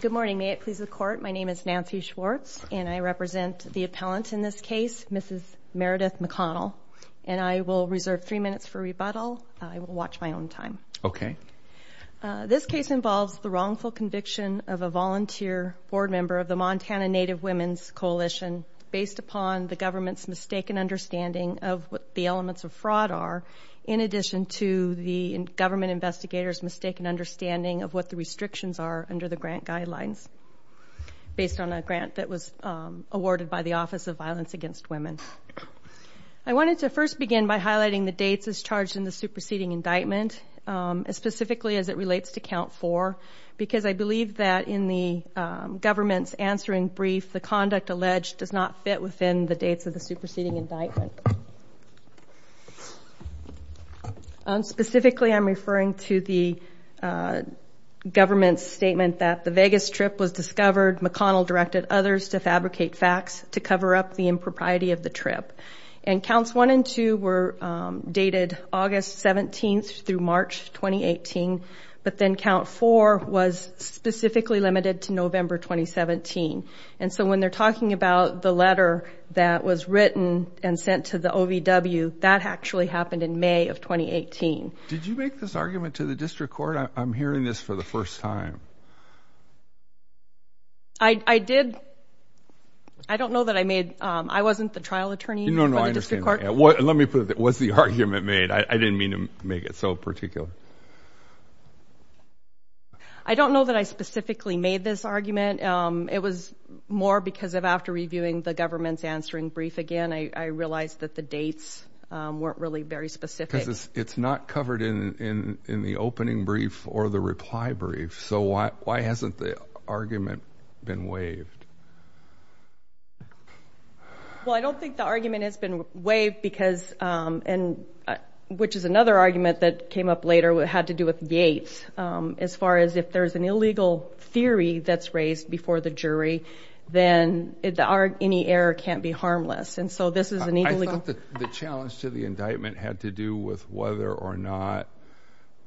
Good morning. May it please the court, my name is Nancy Schwartz and I represent the appellant in this case, Mrs. Meredith McConnell, and I will reserve three minutes for rebuttal. I will watch my own time. Okay. This case involves the wrongful conviction of a volunteer board member of the Montana Native Women's Coalition based upon the government's mistaken understanding of what the elements of fraud are, in addition to the government investigator's mistaken understanding of what the restrictions are under the grant guidelines, based on a grant that was awarded by the Office of Violence Against Women. I wanted to first begin by highlighting the dates as charged in the superseding indictment, specifically as it relates to count four, because I believe that in the government's answering brief, the conduct alleged does not fit within the dates of the superseding indictment. Specifically, I'm referring to the government's statement that the Vegas trip was discovered, McConnell directed others to fabricate facts to cover up the impropriety of the trip. And counts one and two were dated August 17th through March 2018, but then count four was specifically limited to November 2017. And so when they're talking about the letter that was written and sent to the OVW, that actually happened in May of 2018. Did you make this argument to the district court? I'm hearing this for the first time. I did. I don't know that I made, I wasn't the trial attorney. No, no, I understand. Let me put it, was the argument made? I didn't mean to make it so particular. I don't know that I specifically made this argument. It was more because of after reviewing the government's answering brief again, I realized that the dates weren't really very specific. It's not covered in, in, in the opening brief or the reply brief. So why, why hasn't the argument been waived? Well, I don't think the argument has been waived because, um, and, uh, which is another argument that came up later, what had to do with Yates, um, as far as if there's an illegal theory that's raised before the jury, then the art, any error can't be harmless. And so this is an challenge to the indictment had to do with whether or not,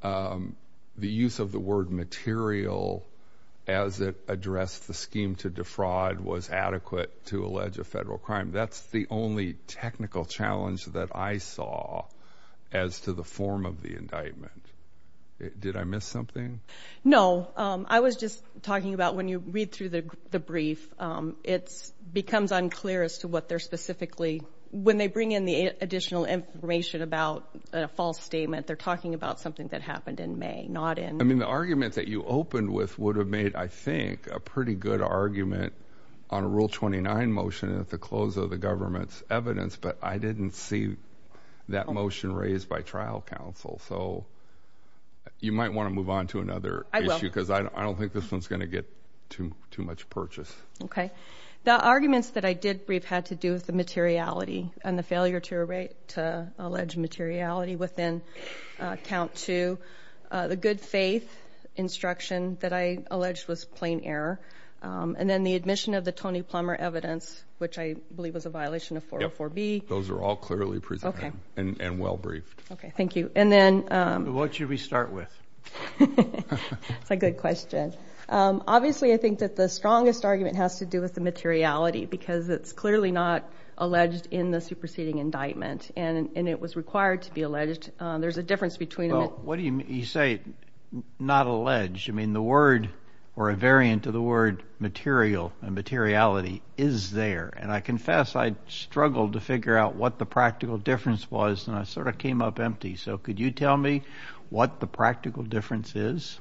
um, the use of the word material as it addressed the scheme to defraud was adequate to allege a federal crime. That's the only technical challenge that I saw as to the form of the indictment. Did I miss something? No. Um, I was just talking about when you read through the, the brief, um, it's becomes unclear as to what they're specifically, when they bring in the additional information about a false statement, they're talking about something that happened in May, not in. I mean, the argument that you opened with would have made, I think a pretty good argument on a rule 29 motion at the close of the government's evidence, but I didn't see that motion raised by trial counsel. So you might want to move on to another issue because I don't think this one's going to get too, too much purchase. Okay. The arguments that I did brief had to do with the materiality and the failure to rate, to allege materiality within a count to, uh, the good faith instruction that I alleged was plain error. Um, and then the admission of the Tony Plummer evidence, which I believe was a violation of 404 B. Those are all clearly presented and well-briefed. Okay. I think that the strongest argument has to do with the materiality because it's clearly not alleged in the superseding indictment and, and it was required to be alleged. Um, there's a difference between them. What do you say? Not alleged. I mean, the word or a variant of the word material and materiality is there. And I confess I struggled to figure out what the practical difference was and I sort of came up empty. So could you tell me what the practical difference is?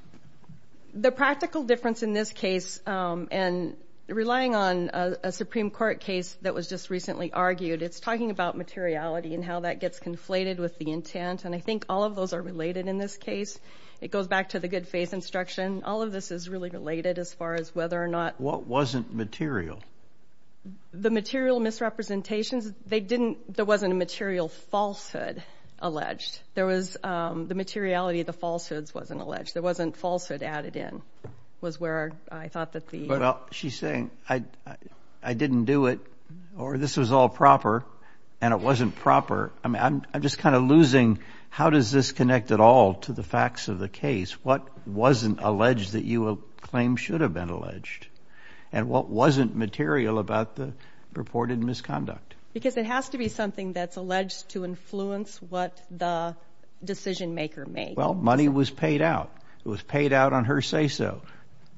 The practical difference in this case, um, and relying on a Supreme court case that was just recently argued, it's talking about materiality and how that gets conflated with the intent. And I think all of those are related in this case. It goes back to the good faith instruction. All of this is really related as far as whether or not what wasn't material, the material misrepresentations they didn't, there wasn't a materiality of the falsehoods wasn't alleged. There wasn't falsehood added in was where I thought that the, she's saying I, I didn't do it or this was all proper and it wasn't proper. I mean, I'm, I'm just kind of losing, how does this connect at all to the facts of the case? What wasn't alleged that you will claim should have been alleged and what wasn't material about the reported misconduct? Because it has to be something that's alleged to influence what the decision-maker made. Well, money was paid out. It was paid out on her say-so.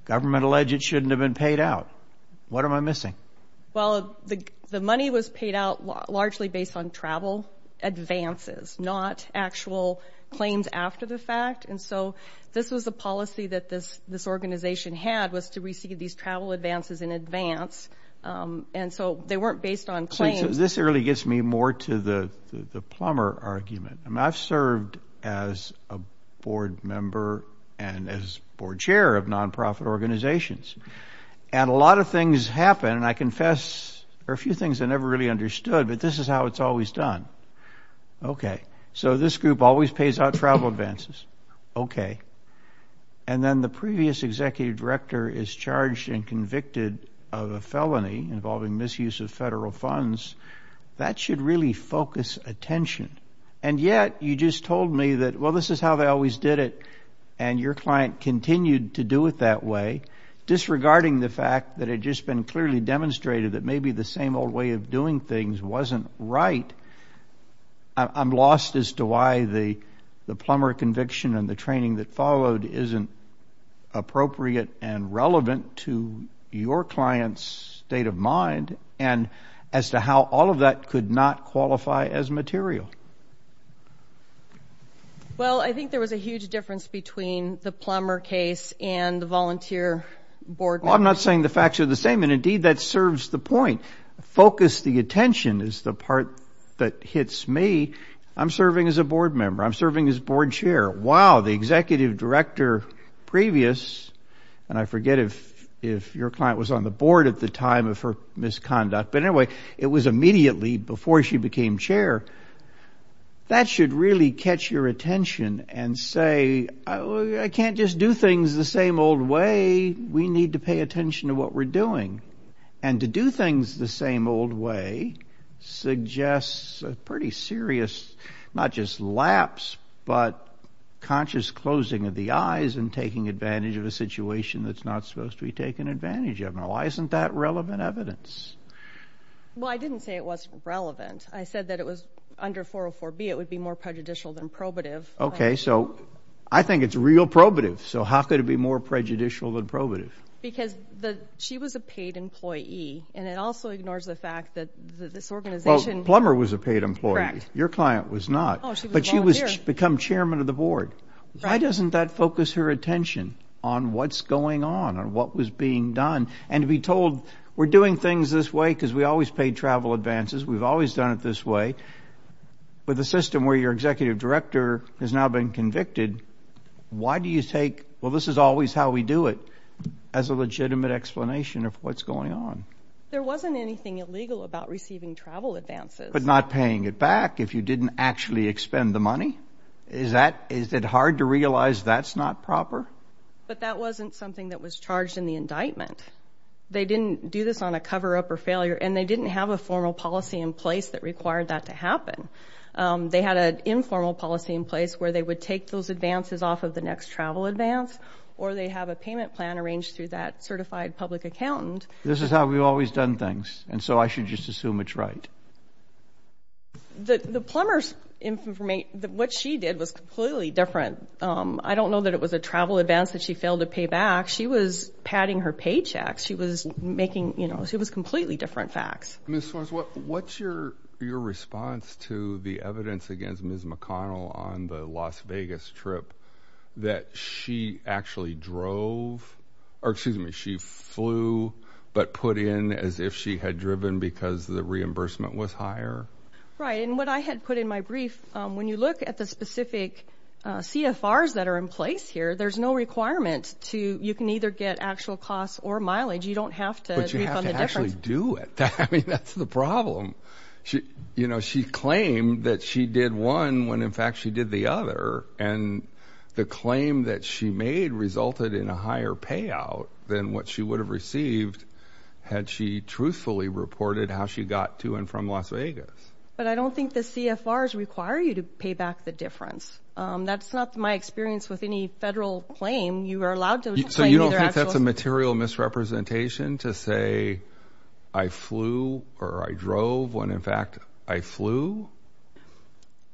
Government alleged it shouldn't have been paid out. What am I missing? Well, the money was paid out largely based on travel advances, not actual claims after the fact. And so this was the policy that this, this organization had was to receive these travel advances in advance. Um, and so they weren't based on claims. This really gets me more to the, the plumber argument. I mean, I've served as a board member and as board chair of nonprofit organizations and a lot of things happen and I confess there are a few things I never really understood, but this is how it's always done. Okay. So this group always pays out travel advances. Okay. And then the previous executive director is charged and that should really focus attention. And yet you just told me that, well, this is how they always did it. And your client continued to do it that way, disregarding the fact that it had just been clearly demonstrated that maybe the same old way of doing things wasn't right. I'm lost as to why the, the plumber conviction and the training that followed isn't appropriate and relevant to your client's state of mind and as to how all of that could not qualify as material. Well, I think there was a huge difference between the plumber case and the volunteer board. Well, I'm not saying the facts are the same and indeed that serves the point. Focus the attention is the part that hits me. I'm serving as a board member. I'm serving as at the time of her misconduct, but anyway, it was immediately before she became chair. That should really catch your attention and say, I can't just do things the same old way. We need to pay attention to what we're doing and to do things the same old way suggests a pretty serious, not just lapse, but conscious closing of the eyes and taking advantage of a situation that's not supposed to be taken advantage of. Now, why isn't that relevant evidence? Well, I didn't say it wasn't relevant. I said that it was under 404B. It would be more prejudicial than probative. Okay. So I think it's real probative. So how could it be more prejudicial than probative? Because the, she was a paid employee and it also ignores the fact that this organization. Plumber was a paid employee. Your client was not, but she was become chairman of the board. Why doesn't that focus her attention on what's going on and what was being done? And to be told we're doing things this way because we always paid travel advances. We've always done it this way, but the system where your executive director has now been convicted. Why do you take, well, this is always how we do it as a legitimate explanation of what's going on. There wasn't anything illegal about receiving travel advances. But not paying it back if you didn't actually expend the money. Is that, is it hard to realize that's not proper? But that wasn't something that was charged in the indictment. They didn't do this on a coverup or failure and they didn't have a formal policy in place that required that to happen. They had an informal policy in place where they would take those advances off of the next travel advance or they have a payment plan arranged through that certified public accountant. This is how we've always done things. And so I just assume it's right. The plumber's information, what she did was completely different. I don't know that it was a travel advance that she failed to pay back. She was padding her paychecks. She was making, you know, she was completely different facts. Ms. Swartz, what's your response to the evidence against Ms. McConnell on the Las Vegas trip that she actually drove, or excuse me, she flew, but put in as if she had driven because the reimbursement was higher? Right. And what I had put in my brief, when you look at the specific CFRs that are in place here, there's no requirement to, you can either get actual costs or mileage. You don't have to. But you have to actually do it. I mean, that's the problem. She, you know, she claimed that she did one when in fact she did the other. And the claim that she made resulted in a higher payout than what she would have received had she truthfully reported how she got to and from Las Vegas. But I don't think the CFRs require you to pay back the difference. That's not my experience with any federal claim. You are allowed to. So you don't think that's a material misrepresentation to say I flew or I drove when in fact I flew?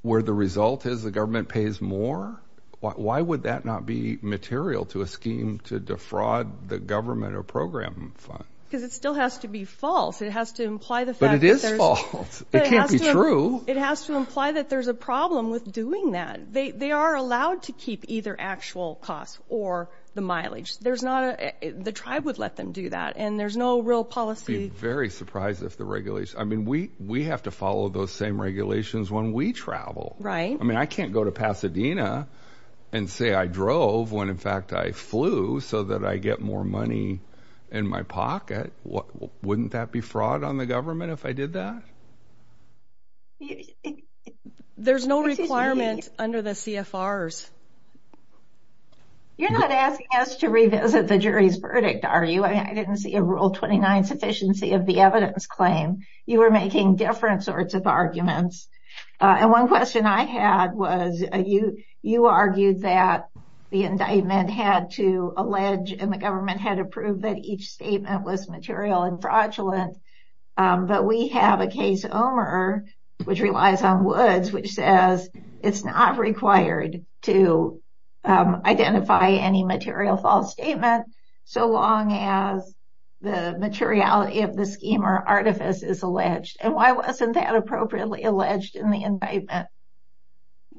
Where the result is the government pays more? Why would that not be material to a scheme to defraud the government or program fund? Because it still has to be false. It has to imply the fact. But it is false. It can't be true. It has to imply that there's a problem with doing that. They are allowed to keep either actual costs or the mileage. There's not a, the tribe would let them do that. And there's no real policy. I'd be very surprised if the regulation, I mean, we have to follow those same regulations when we travel. Right. I mean, I can't go to Pasadena and say I drove when in fact I flew so that I get more money in my pocket. Wouldn't that be fraud on the government if I did that? There's no requirement under the CFRs. You're not asking us to revisit the jury's verdict, are you? I didn't see a rule 29 sufficiency of the evidence claim. You were making difference arguments. And one question I had was, you argued that the indictment had to allege and the government had to prove that each statement was material and fraudulent. But we have a case, Omer, which relies on Woods, which says it's not required to identify any material false statement so long as the materiality of the scheme or artifice is alleged. And why wasn't that appropriately alleged in the indictment?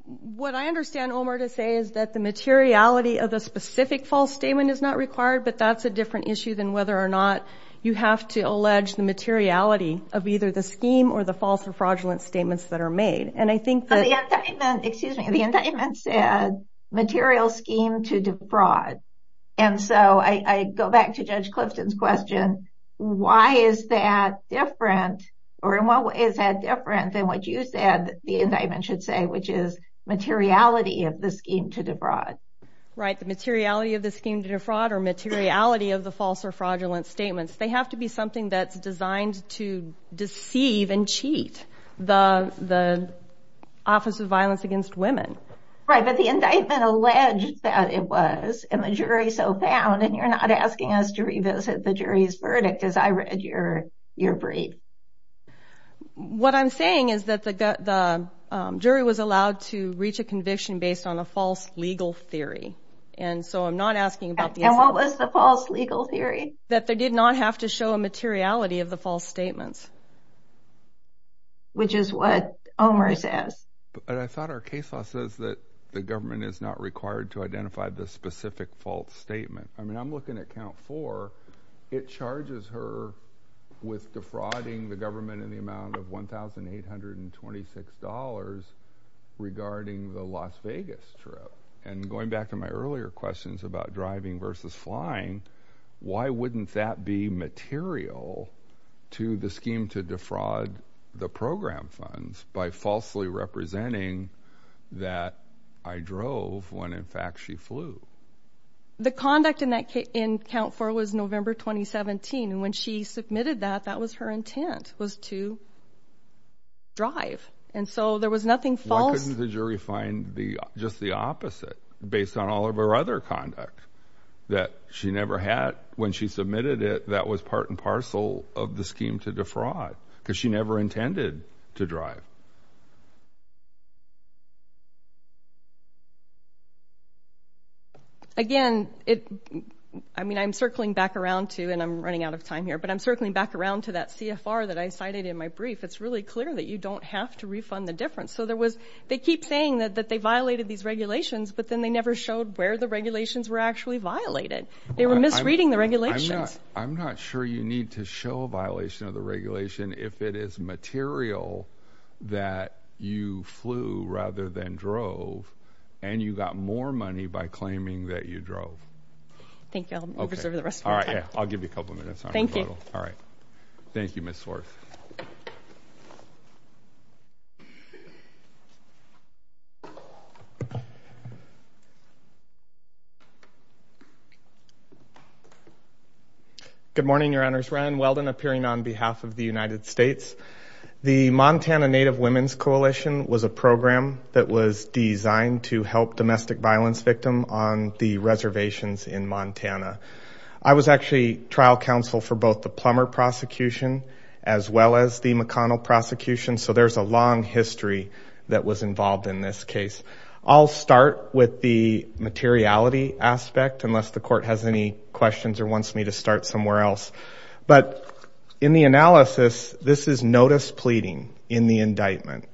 What I understand, Omer, to say is that the materiality of the specific false statement is not required, but that's a different issue than whether or not you have to allege the materiality of either the scheme or the false or fraudulent statements that are made. The indictment said material scheme to defraud. And so I go back to Judge Clifton's question, why is that different or in what way is that different than what you said the indictment should say, which is materiality of the scheme to defraud? Right, the materiality of the scheme to defraud or materiality of the false or fraudulent statements. They have to be something that's the Office of Violence Against Women. Right, but the indictment alleged that it was, and the jury so found. And you're not asking us to revisit the jury's verdict as I read your brief. What I'm saying is that the jury was allowed to reach a conviction based on a false legal theory. And so I'm not asking about... And what was the false legal theory? That they did not have to which is what Omer says. But I thought our case law says that the government is not required to identify the specific false statement. I mean I'm looking at count four, it charges her with defrauding the government in the amount of $1,826 regarding the Las Vegas trip. And going back to my earlier questions about driving versus flying, why wouldn't that be material to the scheme to defraud the program funds by falsely representing that I drove when in fact she flew? The conduct in that in count four was November 2017. And when she submitted that, that was her intent was to drive. And so there was nothing false. Why couldn't the jury find just the opposite based on all of her other conduct that she never had when she submitted it that was part and parcel of the scheme to defraud? Because she never intended to drive. Again, I mean I'm circling back around to, and I'm running out of time here, but I'm circling back around to that CFR that I cited in my brief. It's really clear that you don't have to refund the difference. So there was, they keep saying that they violated these regulations, but then they never showed where the regulations were actually violated. They misreading the regulations. I'm not sure you need to show a violation of the regulation if it is material that you flew rather than drove and you got more money by claiming that you drove. Thank you. I'll give you a couple minutes. Thank you. All right. Thank you. Good morning, your honors. Ryan Weldon appearing on behalf of the United States. The Montana Native Women's Coalition was a program that was designed to help domestic violence victim on the reservations in Montana. I was actually trial counsel for both the plumber prosecution as well as the McConnell prosecution. So there's a long history that was involved in this case. I'll start with the materiality aspect, unless the court has any questions or wants me to start somewhere else. But in the analysis, this is notice pleading in the indictment.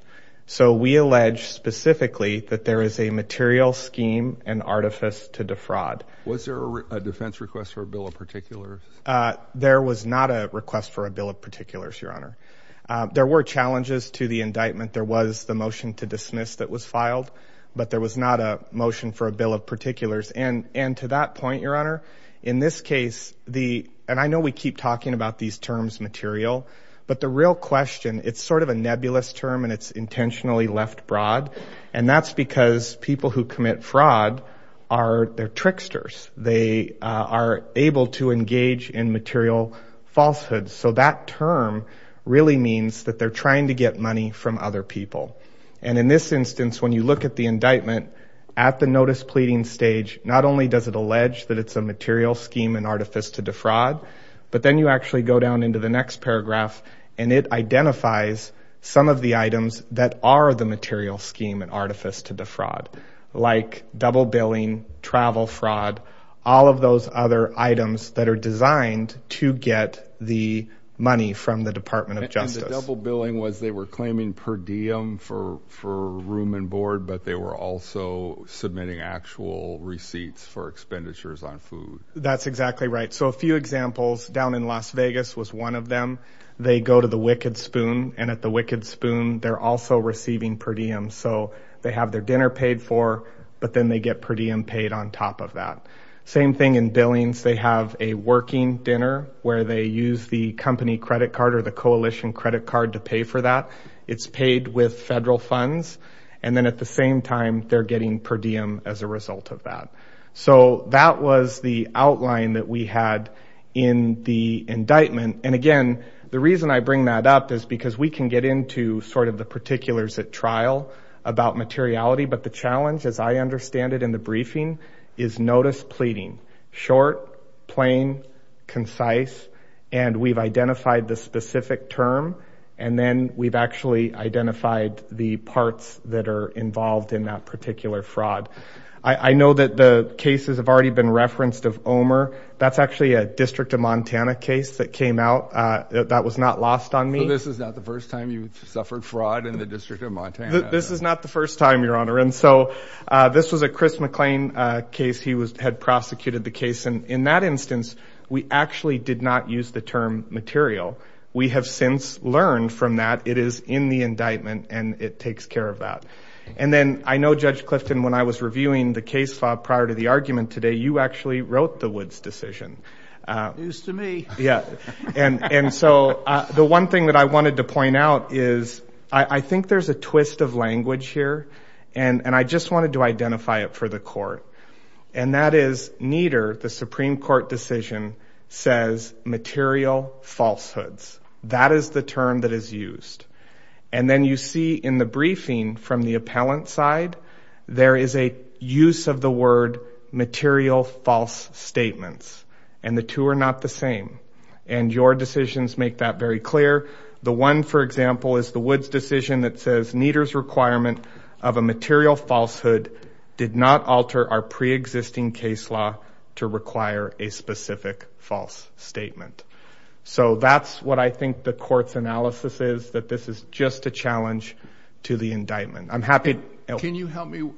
So we allege specifically that there is a material scheme and artifice to defraud. Was there a defense request for a bill of particulars? There was not a request for a bill of particulars, your honor. There were challenges to the indictment. There was the motion to dismiss that was filed, but there was not a motion for a bill of particulars. And to that point, your honor, in this case, the and I know we keep talking about these terms material, but the real question, it's sort of a nebulous term and it's intentionally left broad. And that's because people who commit fraud are they're tricksters. They are able to engage in material falsehoods. So that term really means that they're trying to get money from other people. And in this instance, when you look at the indictment at the notice pleading stage, not only does it allege that it's a material scheme and artifice to defraud, but then you actually go down into the next paragraph and it identifies some of the items that are the material scheme and artifice to defraud, like double billing, travel fraud, all of those other items that are designed to get the money from the Department of Justice. And the double billing was they were claiming per diem for room and board, but they were also submitting actual receipts for expenditures on food. That's exactly right. So a few examples down in Las Vegas was one of them. They go to the Wicked Spoon and at the Wicked Spoon, they're also receiving per diem. So they have their paid for, but then they get per diem paid on top of that. Same thing in Billings. They have a working dinner where they use the company credit card or the coalition credit card to pay for that. It's paid with federal funds. And then at the same time, they're getting per diem as a result of that. So that was the outline that we had in the indictment. And again, the reason I bring that up is because we can get into sort of the particulars at trial about materiality. But the challenge, as I understand it in the briefing, is notice pleading. Short, plain, concise, and we've identified the specific term. And then we've actually identified the parts that are involved in that particular fraud. I know that the cases have already been referenced of Omer. That's that was not lost on me. This is not the first time you've suffered fraud in the District of Montana. This is not the first time, Your Honor. And so this was a Chris McClain case. He was had prosecuted the case. And in that instance, we actually did not use the term material. We have since learned from that it is in the indictment and it takes care of that. And then I know Judge Clifton, when I was reviewing the case file prior to the argument today, you actually wrote the decision used to me. Yeah. And so the one thing that I wanted to point out is I think there's a twist of language here. And I just wanted to identify it for the court. And that is neither. The Supreme Court decision says material falsehoods. That is the term that is used. And then you see in the briefing from the appellant side, there is a use of the word material false statements. And the two are not the same. And your decisions make that very clear. The one, for example, is the Woods decision that says Nieder's requirement of a material falsehood did not alter our pre-existing case law to require a specific false statement. So that's what I think the court's analysis is, that this is just a challenge to the indictment. I'm happy. Can you help me?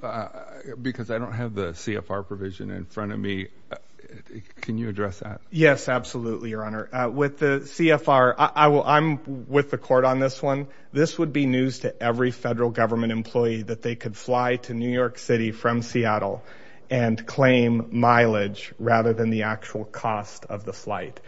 Because I don't have the CFR provision in front of me. Can you address that? Yes, absolutely, Your Honor. With the CFR, I'm with the court on this one. This would be news to every federal government employee that they could fly to New York City from Seattle and claim mileage rather than the actual cost of the flight.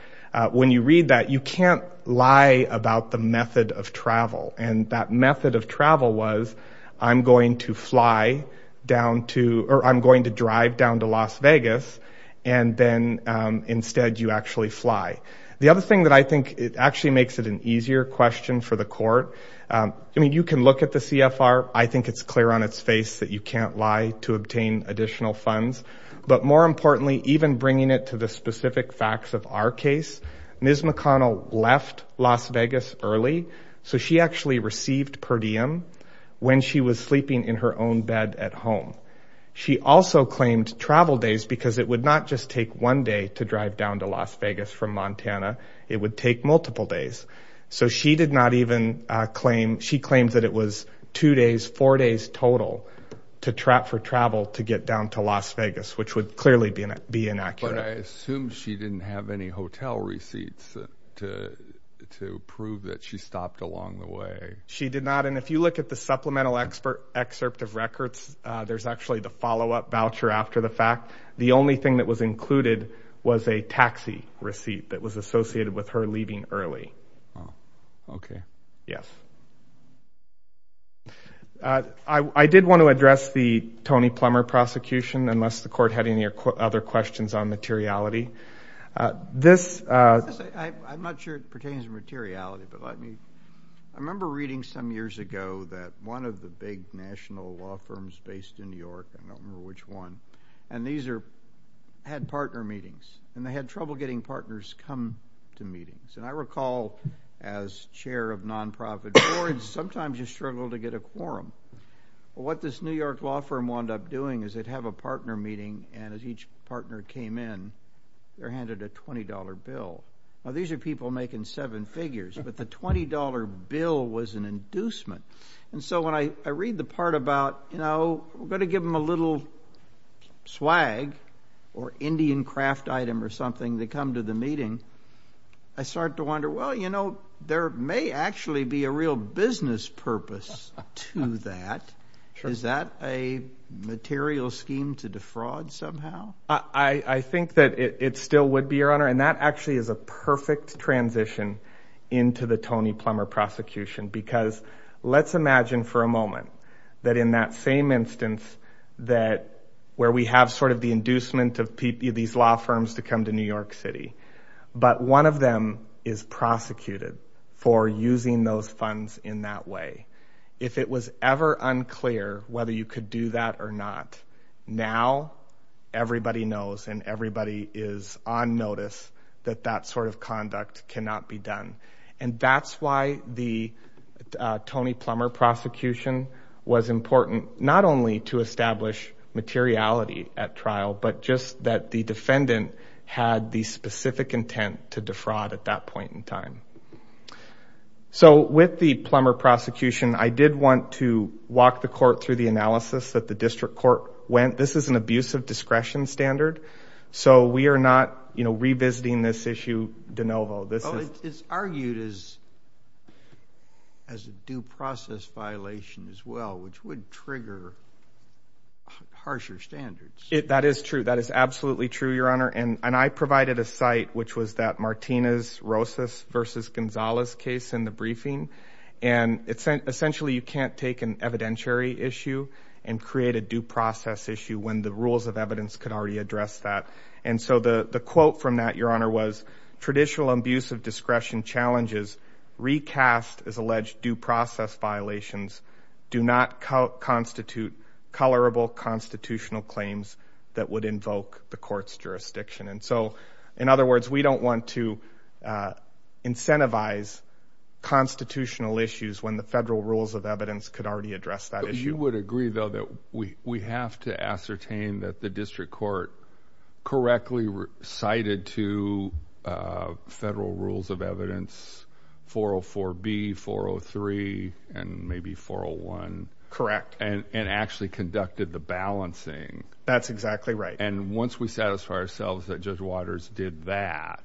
When you read that, you can't lie about the method of travel. And that method of travel was, I'm going to fly down to or I'm going to drive down to Las Vegas. And then instead, you actually fly. The other thing that I think it actually makes it an easier question for the court. I mean, you can look at the CFR. I think it's clear on its face that you can't lie to obtain additional funds. But more importantly, even bringing it to the So she actually received per diem when she was sleeping in her own bed at home. She also claimed travel days because it would not just take one day to drive down to Las Vegas from Montana. It would take multiple days. So she did not even claim. She claimed that it was two days, four days total for travel to get down to Las Vegas, which would clearly be inaccurate. I assumed she didn't have any hotel receipts to to prove that she stopped along the way. She did not. And if you look at the supplemental expert excerpt of records, there's actually the follow up voucher after the fact. The only thing that was included was a taxi receipt that was associated with her leaving early. Oh, OK. Yes. I did want to address the Tony Plummer prosecution unless the court had any other questions on materiality. I'm not sure it pertains to materiality. I remember reading some years ago that one of the big national law firms based in New York, I don't remember which one, and these had partner meetings and they had trouble getting partners come to meetings. And I recall as chair of nonprofit boards, sometimes you struggle to get a quorum. What this New York law firm wound up doing is they'd have a partner meeting. And as each partner came in, they're handed a 20 dollar bill. Now, these are people making seven figures. But the 20 dollar bill was an inducement. And so when I read the part about, you know, we're going to give them a little swag or Indian craft item or something, they come to the meeting. I start to wonder, well, you know, there may actually be a real purpose to that. Is that a material scheme to defraud somehow? I think that it still would be, Your Honor. And that actually is a perfect transition into the Tony Plummer prosecution, because let's imagine for a moment that in that same instance that where we have sort of the inducement of these law firms to come to New York City, but one of them is prosecuted for using those funds in that way. If it was ever unclear whether you could do that or not, now everybody knows and everybody is on notice that that sort of conduct cannot be done. And that's why the Tony Plummer prosecution was important, not only to establish materiality at trial, but just that defendant had the specific intent to defraud at that point in time. So with the Plummer prosecution, I did want to walk the court through the analysis that the district court went. This is an abuse of discretion standard. So we are not, you know, revisiting this issue de novo. This is argued as as a due process violation as well, which would trigger harsher standards. That is true. That is absolutely true, Your Honor. And I provided a site which was that Martinez-Rosas v. Gonzalez case in the briefing. And essentially you can't take an evidentiary issue and create a due process issue when the rules of evidence could already address that. And so the quote from that, Your Honor, was traditional abuse of discretion challenges recast as alleged due process violations do not constitute colorable constitutional claims that would invoke the court's jurisdiction. And so, in other words, we don't want to incentivize constitutional issues when the federal rules of evidence could already address that issue. You would agree, though, that we have to ascertain that the district court correctly cited two federal rules of evidence, 404B, 403, and maybe 401. Correct. And actually conducted the balancing. That's exactly right. And once we satisfy ourselves that Judge Waters did that,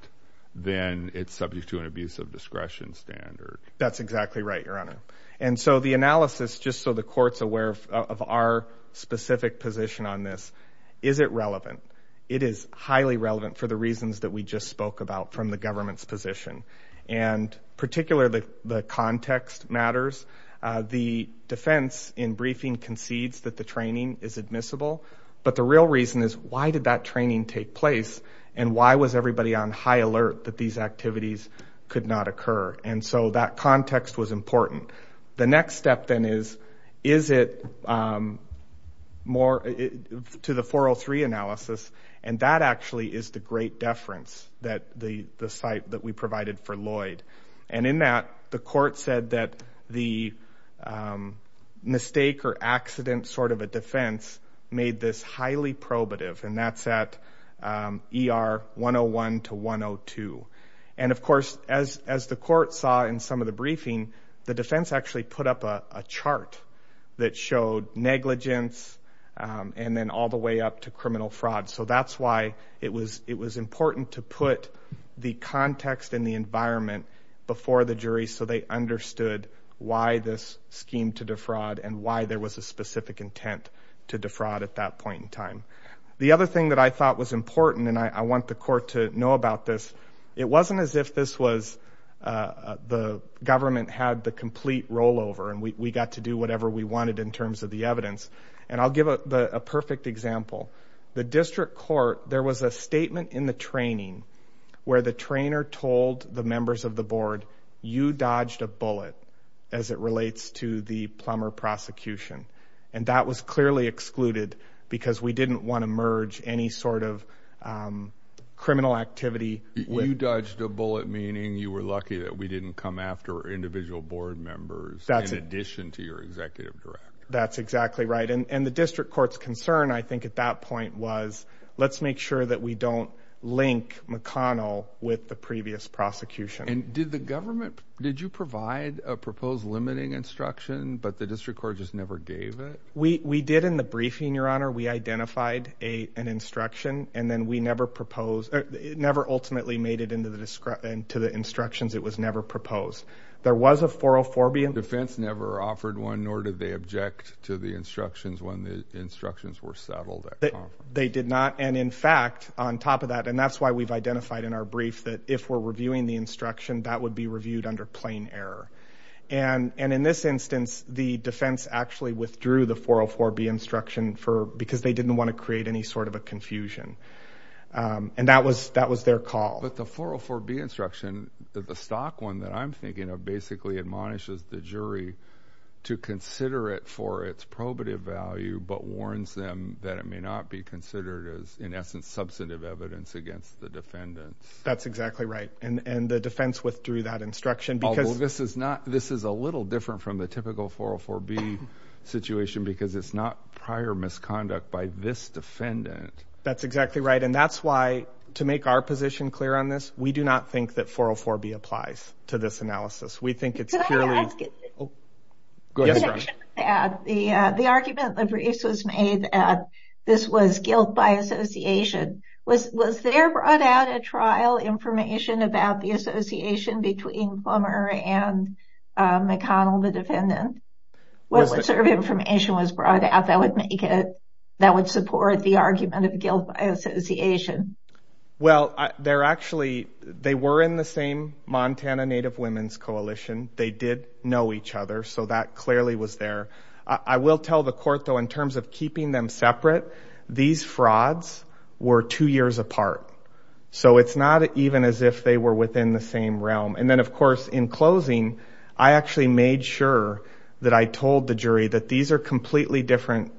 then it's subject to an abuse of discretion standard. That's exactly right, Your Honor. And so the analysis, just so the court's aware of our specific position on this, is it relevant? It is highly relevant for the reasons that we just spoke about from the government's position. And particularly the context matters. The defense in briefing concedes that the training is admissible, but the real reason is why did that training take place and why was everybody on high alert that these activities could not occur? And so that context was important. The next step then is, is it more to the 403 analysis? And that actually is the great deference that the site that we provided for Lloyd. And in that, the court said that the mistake or accident sort of a defense made this highly probative. And that's ER 101 to 102. And of course, as the court saw in some of the briefing, the defense actually put up a chart that showed negligence and then all the way up to criminal fraud. So that's why it was important to put the context and the environment before the jury so they understood why this scheme to defraud and why there was a specific intent to defraud at that point in time. The other thing that I thought was important, and I want the court to know about this, it wasn't as if this was the government had the complete rollover and we got to do whatever we wanted in terms of the evidence. And I'll give a perfect example. The district court, there was a statement in the training where the trainer told the members of the board, you dodged a bullet as it relates to the plumber prosecution. And that was clearly excluded because we didn't want to merge any sort of criminal activity. You dodged a bullet meaning you were lucky that we didn't come after individual board members in addition to your executive director. That's exactly right. And the district court's concern, I think at that point, was let's make sure that we don't link McConnell with the but the district court just never gave it. We did in the briefing, your honor. We identified an instruction and then we never proposed, never ultimately made it into the instructions. It was never proposed. There was a 404B. The defense never offered one nor did they object to the instructions when the instructions were settled. They did not. And in fact, on top of that, and that's why we've identified in our brief that if we're reviewing the instruction, that would be reviewed under plain error. And in this instance, the defense actually withdrew the 404B instruction because they didn't want to create any sort of a confusion. And that was their call. But the 404B instruction, the stock one that I'm thinking of, basically admonishes the jury to consider it for its probative value, but warns them that it may not be considered as, in essence, substantive evidence against the defendants. That's exactly right. And the defense withdrew that instruction because... This is not, this is a little different from the typical 404B situation because it's not prior misconduct by this defendant. That's exactly right. And that's why, to make our position clear on this, we do not think that 404B applies to this analysis. We think it's purely... The argument that was made that this was guilt by association, was there brought out a trial information about the association between Plummer and McConnell, the defendant? What sort of information was brought out that would support the argument of guilt by association? Well, they're actually, they were in the same Montana Native Women's Coalition. They did know each other. So that clearly was there. I will tell the court, though, in terms of keeping them separate, these frauds were two years apart. So it's not even as if they were within the same realm. And then, of course, in closing, I actually made sure that I told the jury that these are completely different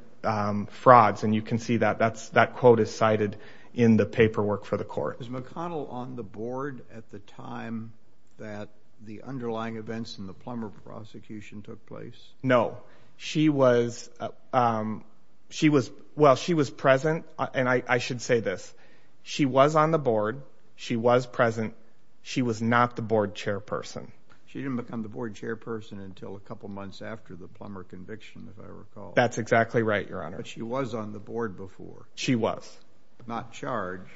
frauds. And you can see that that quote is cited in the paperwork for the court. Was McConnell on the board at the time that the underlying events in the Plummer prosecution took place? No. She was... Well, she was present. And I should say this. She was on the board. She was present. She was not the board chairperson. She didn't become the board chairperson until a couple months after the Plummer conviction, if I recall. That's exactly right, Your Honor. But she was on the board before. She was. Not charged.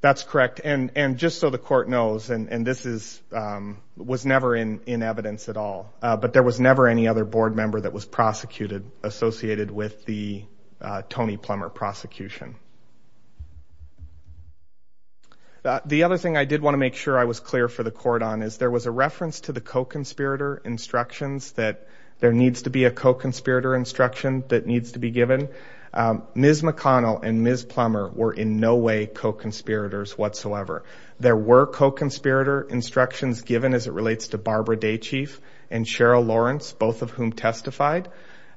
That's correct. And just so the court knows, and this was never in evidence at all, but there was never any other board member that was prosecuted associated with the Tony Plummer prosecution. The other thing I did want to make sure I was clear for the court on is there was a reference to the co-conspirator instructions that there needs to be a co-conspirator instruction that needs to be given. Ms. McConnell and Ms. Plummer were in no way co-conspirators whatsoever. There were co-conspirator instructions given as it relates to Barbara Daychief and Cheryl Lawrence, both of whom testified,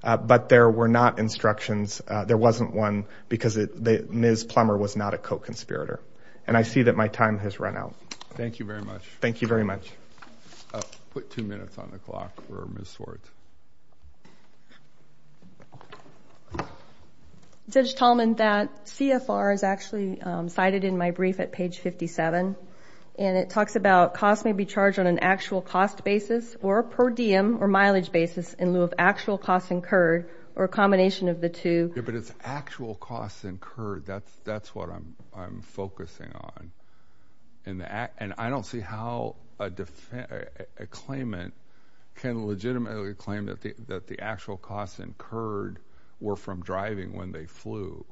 but there were not instructions. There wasn't one because Ms. Plummer was not a co-conspirator. And I see that my time has run out. Thank you very much. Thank you. Judge Tallman, that CFR is actually cited in my brief at page 57, and it talks about costs may be charged on an actual cost basis or per diem or mileage basis in lieu of actual costs incurred or a combination of the two. Yeah, but it's actual costs incurred. That's what I'm focusing on. And I don't see how a claimant can legitimately claim that the actual costs incurred were from driving when they flew.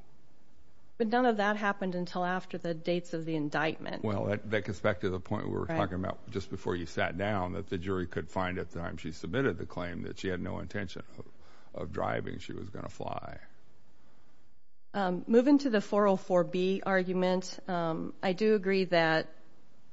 But none of that happened until after the dates of the indictment. Well, that gets back to the point we were talking about just before you sat down, that the jury could find at the time she submitted the claim that she had no intention of driving, she was going to fly. Moving to the 404B argument, I do agree that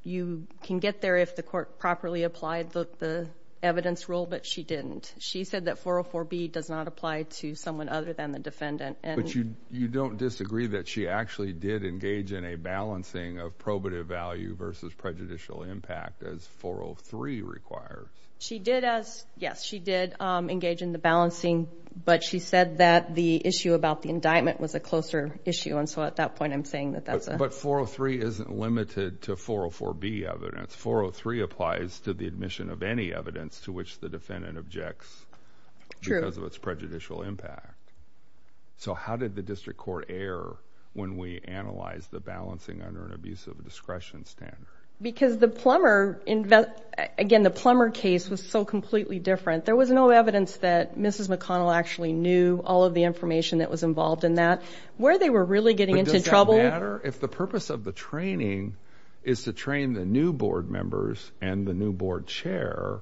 you can get there if the court properly applied the evidence rule, but she didn't. She said that 404B does not apply to someone other than the defendant. But you don't disagree that she actually did engage in a balancing of probative value versus prejudicial impact as 403 requires? Yes, she did engage in the balancing, but she said that the issue about the indictment was a closer issue, and so at that point I'm saying that that's a... But 403 isn't limited to 404B evidence. 403 applies to the impact. So how did the district court err when we analyzed the balancing under an abusive discretion standard? Because the Plummer, again, the Plummer case was so completely different. There was no evidence that Mrs. McConnell actually knew all of the information that was involved in that. Where they were really getting into trouble... But does it matter if the purpose of the training is to train the new board members and the new board chair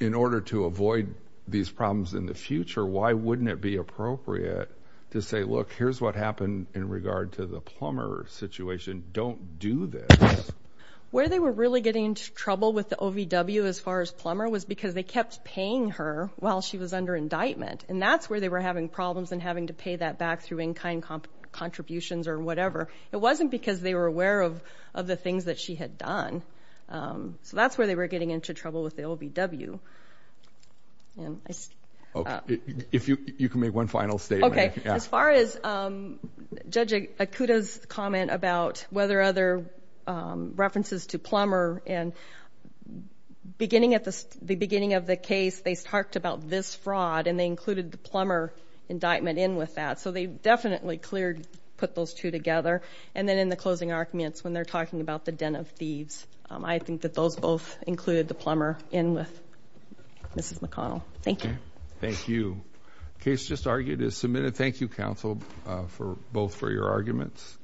in order to avoid these problems in the future? Why wouldn't it be appropriate to say, look, here's what happened in regard to the Plummer situation. Don't do this. Where they were really getting into trouble with the OVW as far as Plummer was because they kept paying her while she was under indictment, and that's where they were having problems and having to pay that back through in-kind contributions or whatever. It wasn't because they were aware of the things that she had done. So that's where they were getting into trouble with the OVW. If you can make one final statement. Okay. As far as Judge Akuta's comment about whether other references to Plummer and the beginning of the case, they talked about this fraud and they included the Plummer indictment in with that. So they definitely put those two together. And then in the closing arguments when they're talking about the den of thieves, I think that those both included the Plummer in with Mrs. McConnell. Thank you. Thank you. Case just argued is submitted. Thank you, counsel, both for your arguments.